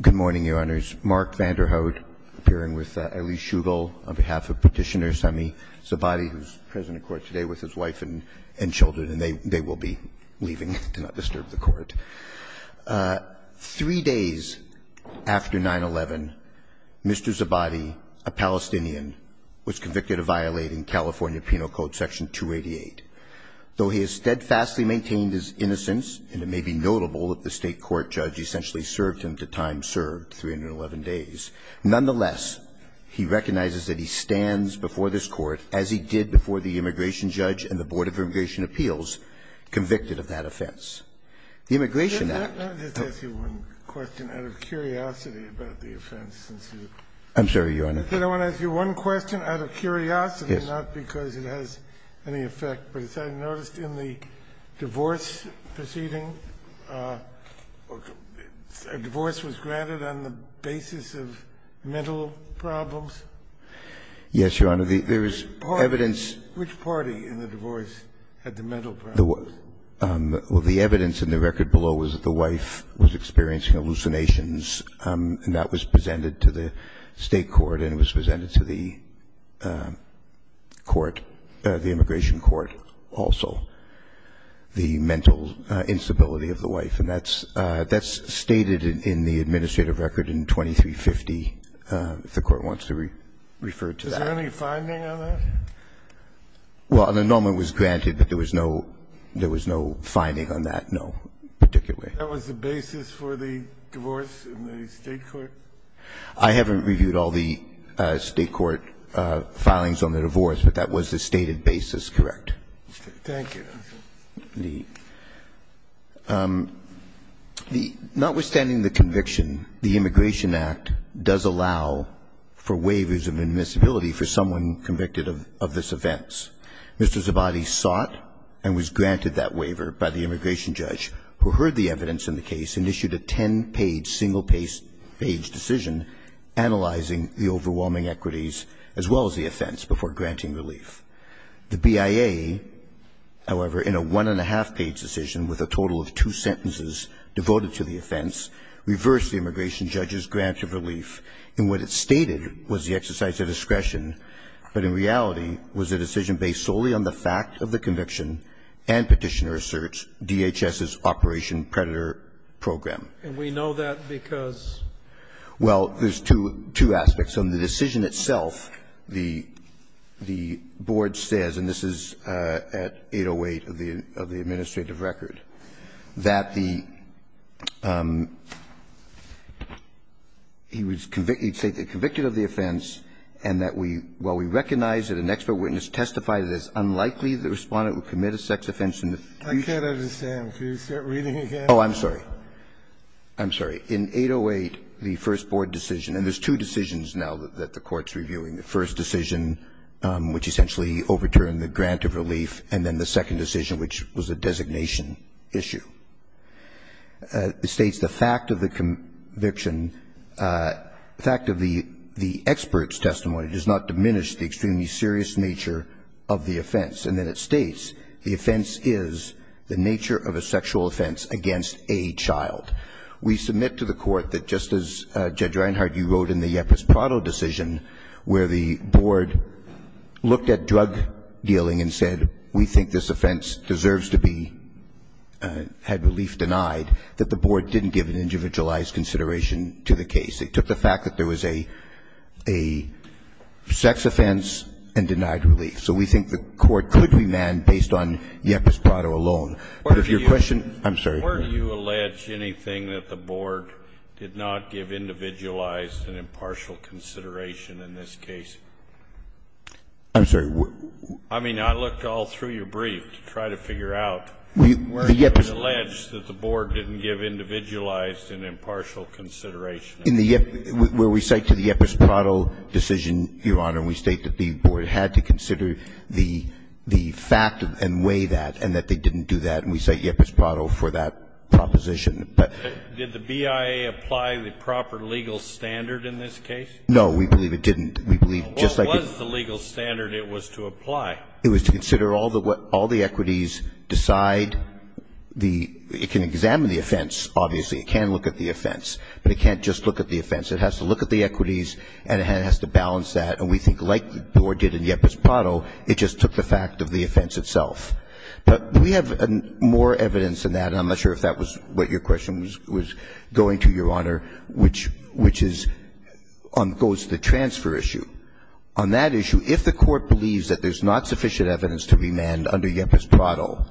Good morning, Your Honors. Mark Vanderhout, appearing with Elise Shugel on behalf of Petitioner Sami Zabadi, who's present in court today with his wife and children, and they will be leaving to not disturb the court. Three days after 9-11, Mr. Zabadi, a Palestinian, was convicted of violating California Penal Code Section 288. Though he has steadfastly maintained his innocence, and it may be notable that the State court judge essentially served him to time served, 311 days, nonetheless, he recognizes that he stands before this Court, as he did before the immigration judge and the Board of Immigration Appeals, convicted of that offense. The Immigration Act — I just want to ask you one question out of curiosity about the offense. I'm sorry, Your Honor. I said I want to ask you one question out of curiosity — Yes. Not because it has any effect, but as I noticed in the divorce proceeding, a divorce was granted on the basis of mental problems? Yes, Your Honor. There is evidence — Which party in the divorce had the mental problems? Well, the evidence in the record below was that the wife was experiencing hallucinations, and that was presented to the State court, and it was presented to the court, the immigration court also, the mental instability of the wife. And that's stated in the administrative record in 2350, if the Court wants to refer to that. Is there any finding on that? Well, an annulment was granted, but there was no finding on that, no, particularly. That was the basis for the divorce in the State court? I haven't reviewed all the State court filings on the divorce, but that was the stated basis, correct. Thank you. Notwithstanding the conviction, the Immigration Act does allow for waivers of admissibility for someone convicted of this offense. Mr. Zabadi sought and was granted that waiver by the immigration judge, who heard the evidence in the case and issued a ten-page, single-page decision analyzing the overwhelming equities as well as the offense before granting relief. The BIA, however, in a one-and-a-half-page decision with a total of two sentences devoted to the offense, reversed the immigration judge's grant of relief in what it stated was the exercise of discretion, but in reality was a decision based solely on the fact of the conviction and Petitioner Asserts, DHS's Operation Predator program. And we know that because? Well, there's two aspects. On the decision itself, the Board says, and this is at 808 of the administrative record, that the he would say they convicted of the offense and that while we recognize that an expert witness testified it is unlikely the Respondent would commit a sex offense in the future. I can't understand. Could you start reading again? Oh, I'm sorry. I'm sorry. In 808, the first Board decision, and there's two decisions now that the Court's reviewing, the first decision, which essentially overturned the grant of relief, and then the second decision, which was a designation issue. It states the fact of the conviction, the fact of the expert's testimony does not diminish the extremely serious nature of the offense. And then it states the offense is the nature of a sexual offense against a child. We submit to the Court that just as Judge Reinhardt, you wrote in the Yepis Prado decision, where the Board looked at drug dealing and said we think this offense deserves to be, had relief denied, that the Board didn't give an individualized consideration to the case. It took the fact that there was a sex offense and denied relief. So we think the Court could remand based on Yepis Prado alone. But if your question, I'm sorry. Where do you allege anything that the Board did not give individualized and impartial consideration in this case? I'm sorry. I mean, I looked all through your brief to try to figure out where you allege that the Board didn't give individualized and impartial consideration. In the Yepis, where we cite to the Yepis Prado decision, Your Honor, we state that the Board had to consider the fact and weigh that, and that they didn't do that. And we cite Yepis Prado for that proposition. But did the BIA apply the proper legal standard in this case? No, we believe it didn't. We believe just like it. What was the legal standard it was to apply? It was to consider all the equities, decide the, it can examine the offense, obviously. It can look at the offense. But it can't just look at the offense. It has to look at the equities, and it has to balance that. And we think like the Board did in Yepis Prado, it just took the fact of the offense itself. But we have more evidence than that, and I'm not sure if that was what your question was going to, Your Honor, which is on goes to the transfer issue. On that issue, if the Court believes that there's not sufficient evidence to remand under Yepis Prado,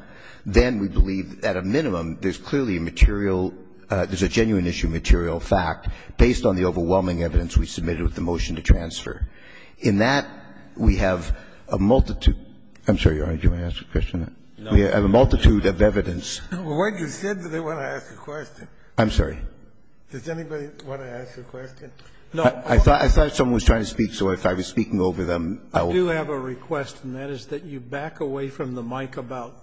then we believe at a minimum there's clearly material, there's a genuine issue, material fact based on the overwhelming evidence we submitted with the motion to transfer. In that, we have a multitude. I'm sorry, Your Honor. I don't think you want to ask a question. We have a multitude of evidence. I'm sorry. I thought someone was trying to speak, so if I was speaking over them, I will. I do have a request, and that is that you back away from the mic about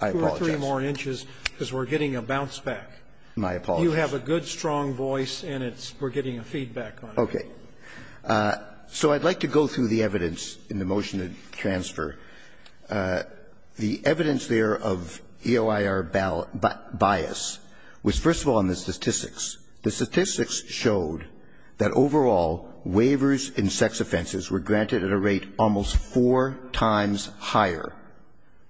two or three more inches, because we're getting a bounce back. You have a good, strong voice, and it's, we're getting a feedback on it. Okay. So I'd like to go through the evidence in the motion to transfer. The evidence there of EOIR bias was, first of all, in the statistics. The statistics showed that overall, waivers in sex offenses were granted at a rate almost four times higher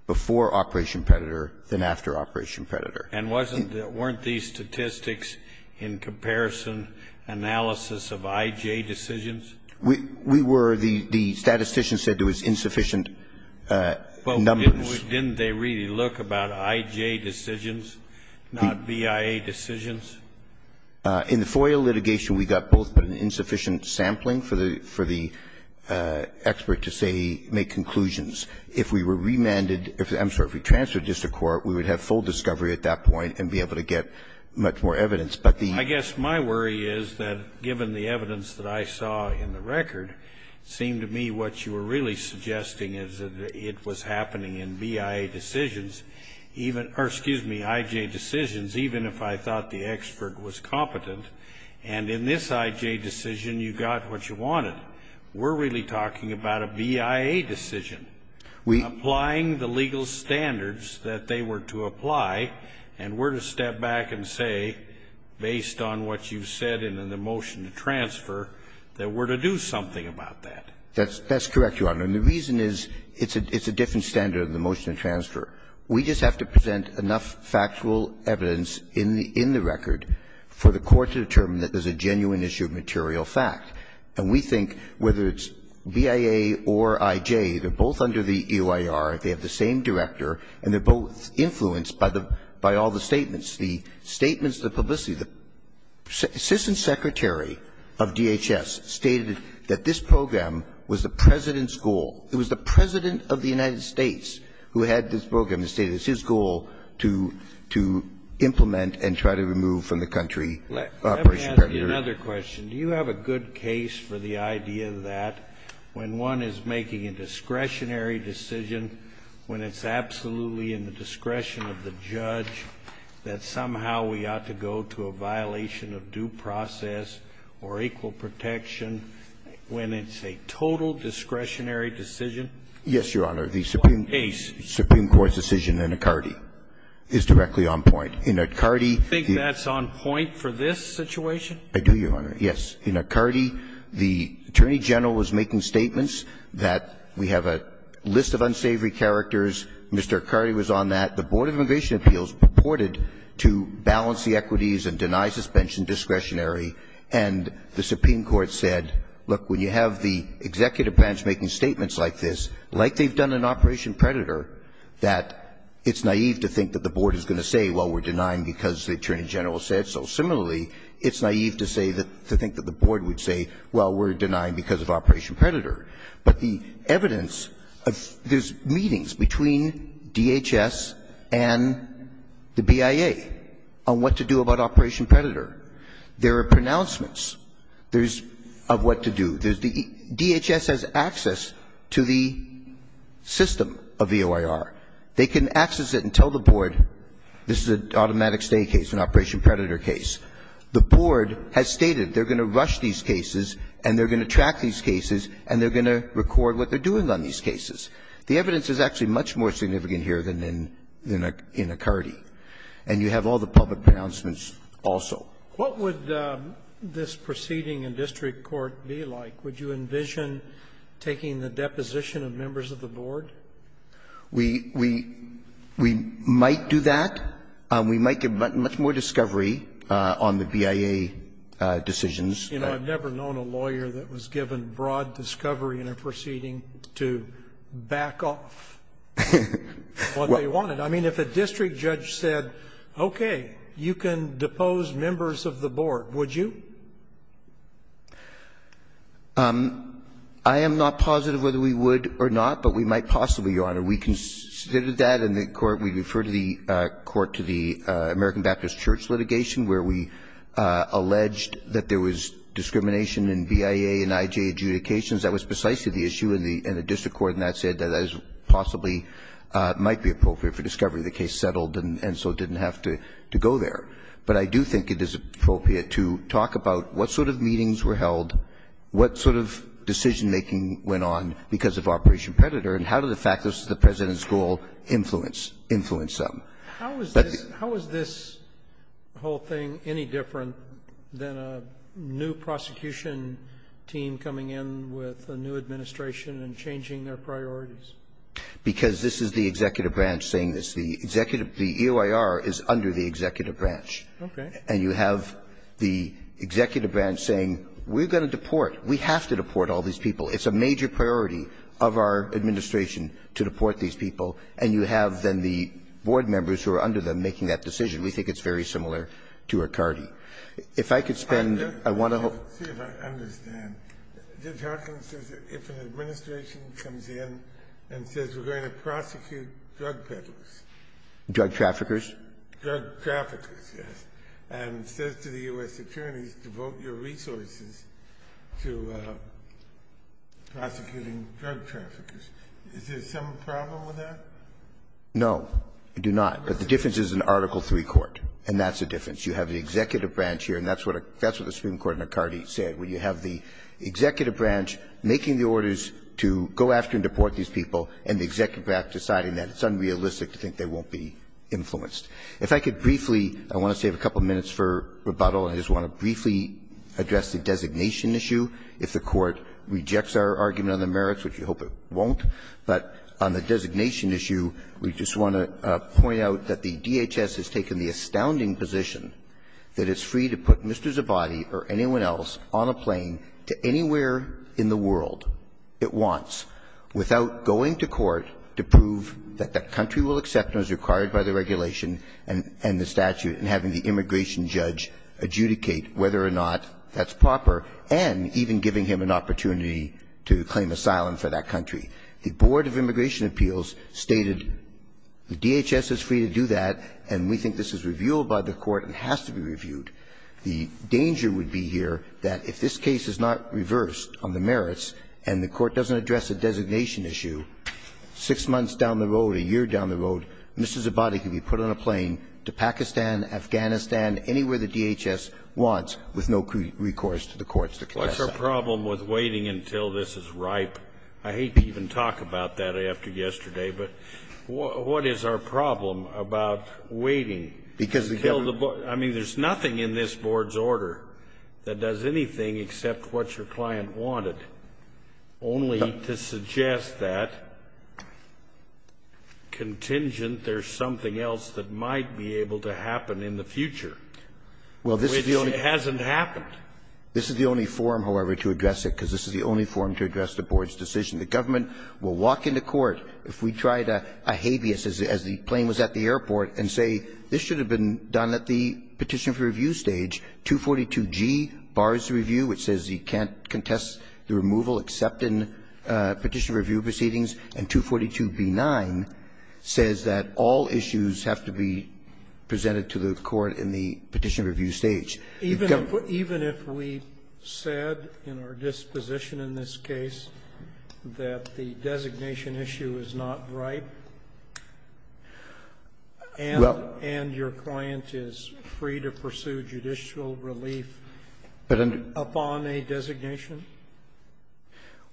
before Operation Predator than after Operation Predator. And wasn't, weren't these statistics in comparison analysis of I.J. decisions? We were. The statistician said there was insufficient numbers. Well, didn't they really look about I.J. decisions, not BIA decisions? In the FOIA litigation, we got both, but insufficient sampling for the expert to say, make conclusions. If we were remanded, I'm sorry, if we transferred this to court, we would have full discovery at that point and be able to get much more evidence. But the. I guess my worry is that given the evidence that I saw in the record, it seemed to me what you were really suggesting is that it was happening in BIA decisions, even, or excuse me, I.J. decisions, even if I thought the expert was competent. And in this I.J. decision, you got what you wanted. We're really talking about a BIA decision. We. Applying the legal standards that they were to apply and were to step back and say, based on what you've said in the motion to transfer, that we're to do something about that. That's correct, Your Honor. And the reason is it's a different standard than the motion to transfer. We just have to present enough factual evidence in the record for the court to determine that there's a genuine issue of material fact. And we think, whether it's BIA or I.J., they're both under the EOIR, they have the same director, and they're both influenced by the, by all the statements. The statements, the publicity, the assistant secretary of DHS stated that this program was the President's goal. It was the President of the United States who had this program and stated it's his goal to, to implement and try to remove from the country Operation Parameter. Another question. Do you have a good case for the idea that when one is making a discretionary decision, when it's absolutely in the discretion of the judge, that somehow we ought to go to a violation of due process or equal protection when it's a total discretionary decision? Yes, Your Honor, the Supreme Court's decision in Accardi is directly on point. In Accardi, the --- Do you think that's on point for this situation? I do, Your Honor, yes. In Accardi, the Attorney General was making statements that we have a list of unsavory characters, Mr. Accardi was on that, the Board of Immigration Appeals purported to balance the equities and deny suspension discretionary, and the Supreme Court said, look, when you have the executive branch making statements like this, like they've done in Operation Predator, that it's naive to think that the Board is going to say, well, we're denying because the Attorney General said so. Similarly, it's naive to say that, to think that the Board would say, well, we're denying because of Operation Predator. But the evidence of, there's meetings between DHS and the BIA on what to do about Operation Predator. There are pronouncements. There's, of what to do. DHS has access to the system of EOIR. They can access it and tell the Board, this is an automatic stay case, an Operation Predator case. The Board has stated they're going to rush these cases and they're going to track these cases and they're going to record what they're doing on these cases. The evidence is actually much more significant here than in Accardi. And you have all the public pronouncements also. What would this proceeding in district court be like? Would you envision taking the deposition of members of the Board? We might do that. We might give much more discovery on the BIA decisions. You know, I've never known a lawyer that was given broad discovery in a proceeding to back off what they wanted. I mean, if a district judge said, okay, you can depose members of the Board, would you? I am not positive whether we would or not, but we might possibly, Your Honor. We considered that in the court. We referred the court to the American Baptist Church litigation where we alleged that there was discrimination in BIA and IJ adjudications. That was precisely the issue. And the district court in that said that possibly might be appropriate for discovery. The case settled and so didn't have to go there. But I do think it is appropriate to talk about what sort of meetings were held, what sort of decision-making went on because of Operation Predator, and how does the fact that this is the President's goal influence them. How is this whole thing any different than a new prosecution team coming in with a new administration and changing their priorities? Because this is the executive branch saying this. The executive, the EOIR is under the executive branch. Okay. And you have the executive branch saying, we're going to deport. We have to deport all these people. It's a major priority of our administration to deport these people. And you have then the Board members who are under them making that decision. We think it's very similar to Riccardi. If I could spend, I want to hope. Let's see if I understand. Judge Harkin says that if an administration comes in and says we're going to prosecute drug peddlers. Drug traffickers. Drug traffickers, yes. And says to the U.S. attorneys, devote your resources to prosecuting drug traffickers. Is there some problem with that? No, I do not. But the difference is in Article III court. And that's the difference. You have the executive branch here, and that's what the Supreme Court in Riccardi said, where you have the executive branch making the orders to go after and deport these people, and the executive branch deciding that. It's unrealistic to think they won't be influenced. If I could briefly, I want to save a couple minutes for rebuttal. I just want to briefly address the designation issue. If the Court rejects our argument on the merits, which we hope it won't, but on the designation issue, we just want to point out that the DHS has taken the astounding position that it's free to put Mr. Zabadi or anyone else on a plane to anywhere in the world it wants without going to court to prove that that country will accept what is required by the regulation and the statute and having the immigration judge adjudicate whether or not that's proper, and even giving him an opportunity to claim asylum for that country. The Board of Immigration Appeals stated the DHS is free to do that, and we think this is reviewed by the Court and has to be reviewed. The danger would be here that if this case is not reversed on the merits and the Court doesn't address the designation issue, six months down the road, a year down the road, Mr. Zabadi can be put on a plane to Pakistan, Afghanistan, anywhere the DHS wants with no recourse to the courts to claim asylum. Scalia. What's our problem with waiting until this is ripe? I hate to even talk about that after yesterday, but what is our problem about waiting until this is ripe? I mean, there's nothing in this Board's order that does anything except what your client wanted, only to suggest that contingent there's something else that might be able to happen in the future, which hasn't happened. This is the only forum, however, to address it, because this is the only forum to address the Board's decision. The government will walk into court if we tried a habeas as the plane was at the airport and say this should have been done at the petition for review stage. 242G bars the review, which says you can't contest the removal except in petition review proceedings, and 242B-9 says that all issues have to be presented to the Court in the petition review stage. You've got to put the issue. Even if we said in our disposition in this case that the designation issue is not ripe and your client is free to pursue judicial relief upon a designation?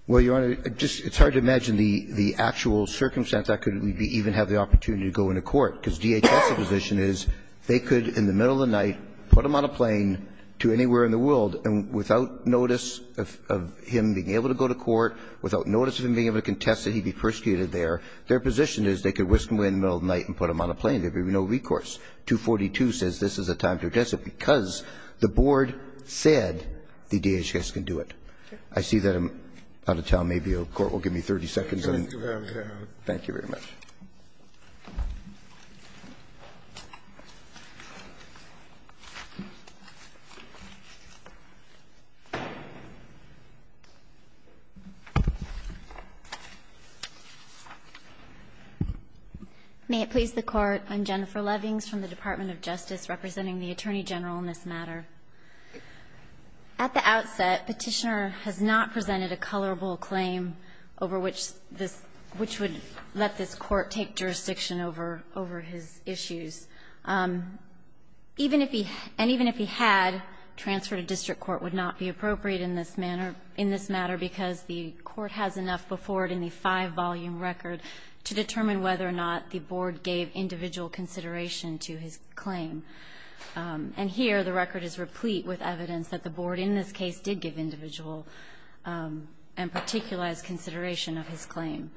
Well, Your Honor, it's hard to imagine the actual circumstance that could even have the opportunity to go into court, because DHS's position is they could, in the middle of the night, put him on a plane to anywhere in the world, and without notice of him being able to go to court, without notice of him being able to contest that he be persecuted there, their position is they could whisk him away in the middle of the night and put him on a plane. There would be no recourse. 242 says this is a time to contest it because the Board said the DHS can do it. I see that I'm out of time. Maybe the Court will give me 30 seconds. Thank you very much. May it please the Court. I'm Jennifer Levings from the Department of Justice, representing the Attorney General in this matter. At the outset, Petitioner has not presented a colorable claim over which this – which would let this Court take jurisdiction over – over his issues. Even if he – and even if he had, transfer to district court would not be appropriate in this manner – in this matter, because the Court has enough before it in the five-volume record to determine whether or not the Board gave individual consideration to his claim. And here, the record is replete with evidence that the Board in this case did give individual and particularized consideration of his claim.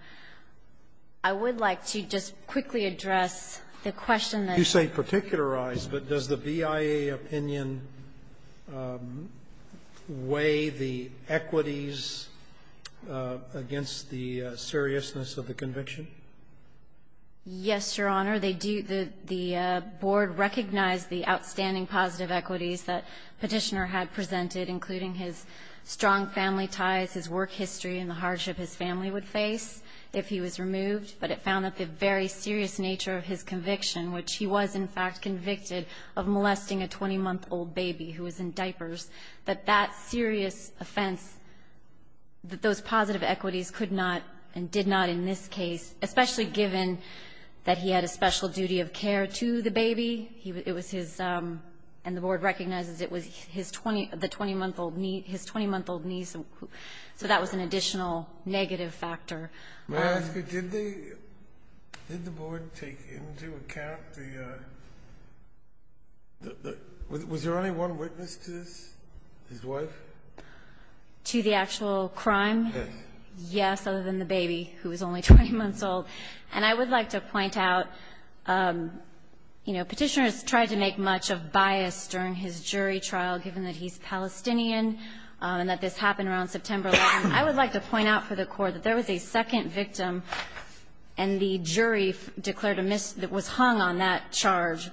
I would like to just quickly address the question that you raised. You say particularized, but does the BIA opinion weigh the equities against the seriousness of the conviction? Yes, Your Honor. They do. The Board recognized the outstanding positive equities that Petitioner had presented, including his strong family ties, his work history, and the hardship his family would face if he was removed. But it found that the very serious nature of his conviction, which he was, in fact, convicted of molesting a 20-month-old baby who was in diapers, that that serious offense, that those positive equities could not and did not in this case, especially given that he had a special duty of care to the baby. It was his — and the Board recognizes it was his 20 — the 20-month-old niece — his 20-month-old niece. So that was an additional negative factor. May I ask you, did the Board take into account the — was there only one witness to this, his wife? To the actual crime? Yes. Yes, other than the baby, who was only 20 months old. And I would like to point out, you know, Petitioner has tried to make much of bias during his jury trial, given that he's Palestinian, and that this happened around September 11th. I would like to point out for the Court that there was a second victim, and the jury declared a — was hung on that charge.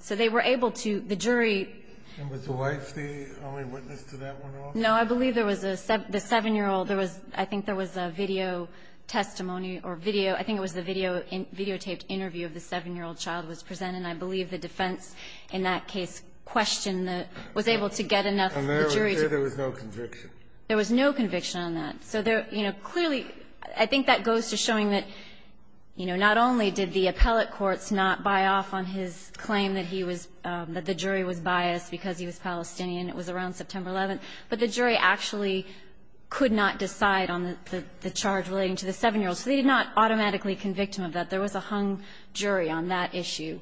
So they were able to — the jury — And was the wife the only witness to that one also? No, I believe there was a — the 7-year-old, there was — I think there was a video testimony or video. I think it was the video — videotaped interview of the 7-year-old child was presented, and I believe the defense in that case questioned the — was able to get enough of the jury to — And there was no conviction? There was no conviction on that. So there — you know, clearly, I think that goes to showing that, you know, not only did the appellate courts not buy off on his claim that he was — that the jury was biased because he was Palestinian, it was around September 11th, but the jury actually could not decide on the charge relating to the 7-year-old. So they did not automatically convict him of that. There was a hung jury on that issue.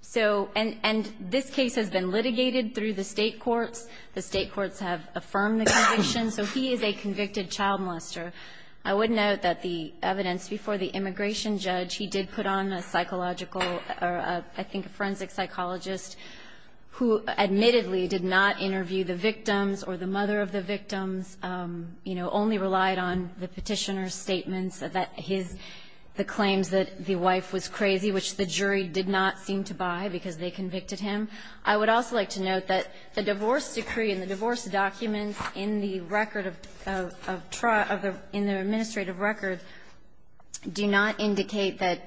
So — and this case has been litigated through the State courts. The State courts have affirmed the conviction. So he is a convicted child molester. I would note that the evidence before the immigration judge, he did put on a psychological — or I think a forensic psychologist who admittedly did not interview the victims or the mother of the victims, you know, only relied on the Petitioner's statements that his — the claims that the wife was crazy, which the jury did not seem to buy because they convicted him. I would also like to note that the divorce decree and the divorce documents in the administrative record do not indicate that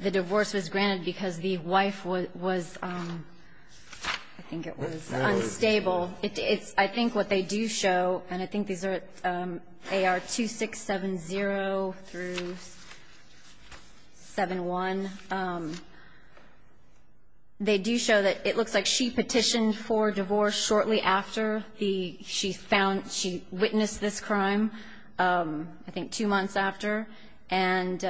the divorce was granted because the wife was — I think it was unstable. It's — I think what they do show, and I think these are AR-2670 through 7-1, they do show that it looks like she petitioned for divorce shortly after the — she found — she witnessed this crime. I think two months after. And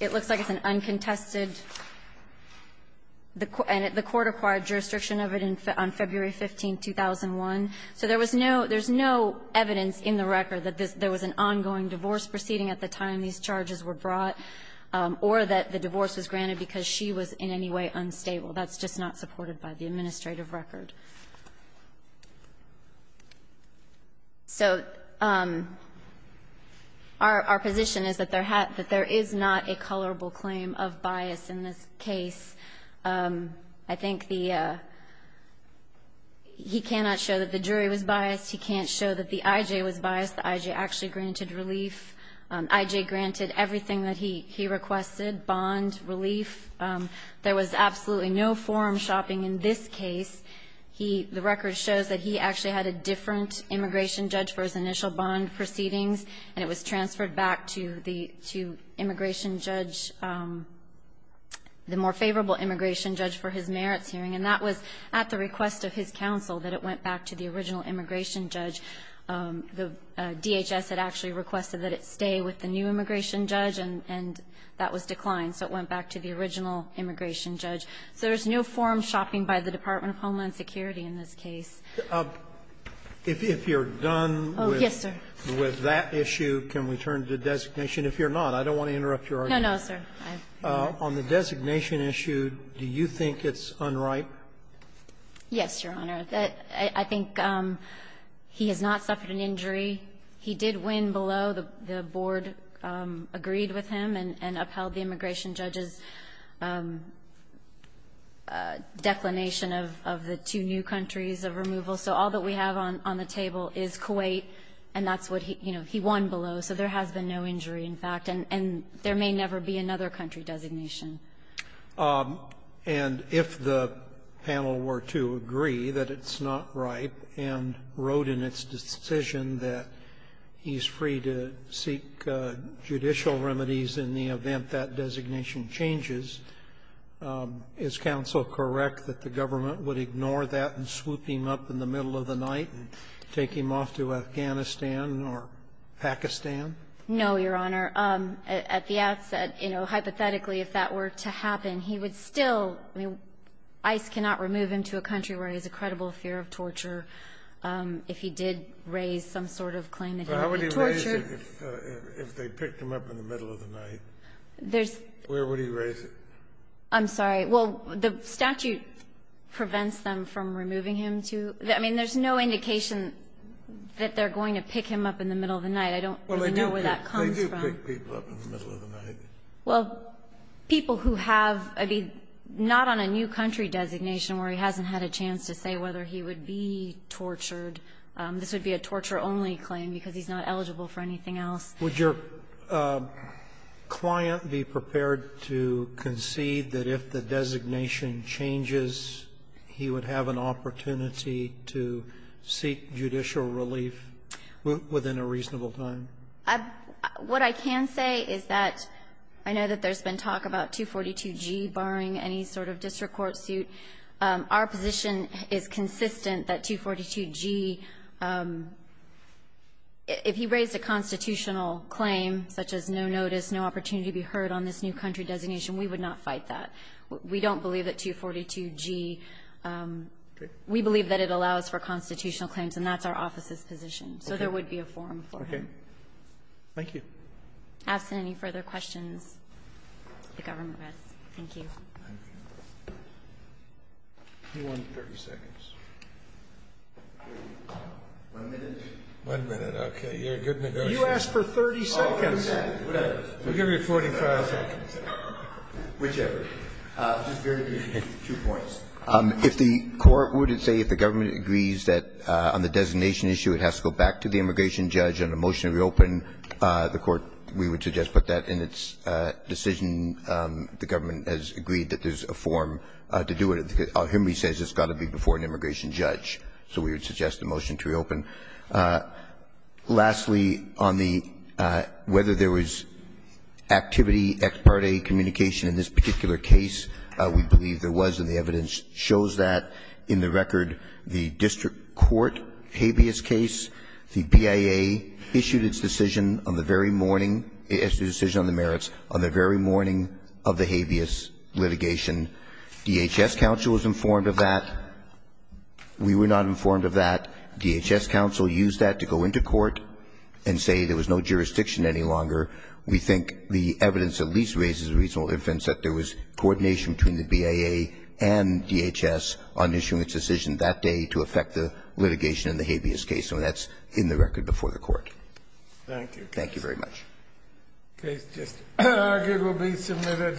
it looks like it's an uncontested — the court acquired jurisdiction of it on February 15, 2001. So there was no — there's no evidence in the record that there was an ongoing divorce proceeding at the time these charges were brought or that the divorce was granted because she was in any way unstable. That's just not supported by the administrative record. So our position is that there is not a colorable claim of bias in this case. I think the — he cannot show that the jury was biased. He can't show that the I.J. was biased. The I.J. actually granted relief. I.J. granted everything that he requested, bond, relief. There was absolutely no forum shopping in this case. He — the record shows that he actually had a different immigration judge for his initial bond proceedings, and it was transferred back to the — to immigration judge, the more favorable immigration judge for his merits hearing. And that was at the request of his counsel that it went back to the original immigration judge. The DHS had actually requested that it stay with the new immigration judge, and that was declined. So it went back to the original immigration judge. So there's no forum shopping by the Department of Homeland Security in this case. Sotomayor, if you're done with that issue, can we turn to designation? If you're not, I don't want to interrupt your argument. No, no, sir. On the designation issue, do you think it's unripe? Yes, Your Honor. I think he has not suffered an injury. He did win below the board agreed with him and upheld the immigration judge's declination of the two new countries of removal. So all that we have on the table is Kuwait, and that's what he — you know, he won below. So there has been no injury, in fact. And there may never be another country designation. And if the panel were to agree that it's not ripe and wrote in its decision that he's free to seek judicial remedies in the event that designation changes, is counsel correct that the government would ignore that and swoop him up in the middle of the night and take him off to Afghanistan or Pakistan? No, Your Honor. At the outset, you know, hypothetically, if that were to happen, he would still — I mean, ICE cannot remove him to a country where he has a credible fear of torture if he did raise some sort of claim that he would be tortured. But how would he raise it if they picked him up in the middle of the night? There's — Where would he raise it? I'm sorry. Well, the statute prevents them from removing him to — I mean, there's no indication that they're going to pick him up in the middle of the night. I don't really know where that comes from. Well, they do pick people up in the middle of the night. Well, people who have — I mean, not on a new country designation where he hasn't had a chance to say whether he would be tortured. This would be a torture-only claim because he's not eligible for anything else. Would your client be prepared to concede that if the designation changes, he would have an opportunity to seek judicial relief within a reasonable time? What I can say is that I know that there's been talk about 242G barring any sort of district court suit. Our position is consistent that 242G — if he raised a constitutional claim such as no notice, no opportunity to be heard on this new country designation, we would not fight that. We don't believe that 242G — we believe that it allows for constitutional claims, and that's our office's position. So there would be a forum for him. Okay. Thank you. Absent any further questions, the government rests. Thank you. Thank you. You won 30 seconds. One minute. One minute. Okay. You're a good negotiator. You asked for 30 seconds. Whatever. We'll give you 45 seconds. Whichever. Two points. If the Court would say if the government agrees that on the designation issue it has to go back to the immigration judge on a motion to reopen, the Court, we would suggest put that in its decision. The government has agreed that there's a forum to do it. Henry says it's got to be before an immigration judge. So we would suggest a motion to reopen. Lastly, on the — whether there was activity, ex parte communication in this particular case, we believe there was, and the evidence shows that. In the record, the district court habeas case, the BIA issued its decision on the very morning — issued a decision on the merits on the very morning of the habeas litigation. DHS counsel was informed of that. We were not informed of that. DHS counsel used that to go into court and say there was no jurisdiction any longer. We think the evidence at least raises a reasonable evidence that there was coordination between the BIA and DHS on issuing its decision that day to affect the litigation in the habeas case. So that's in the record before the Court. Thank you. Thank you very much. The case just argued will be submitted.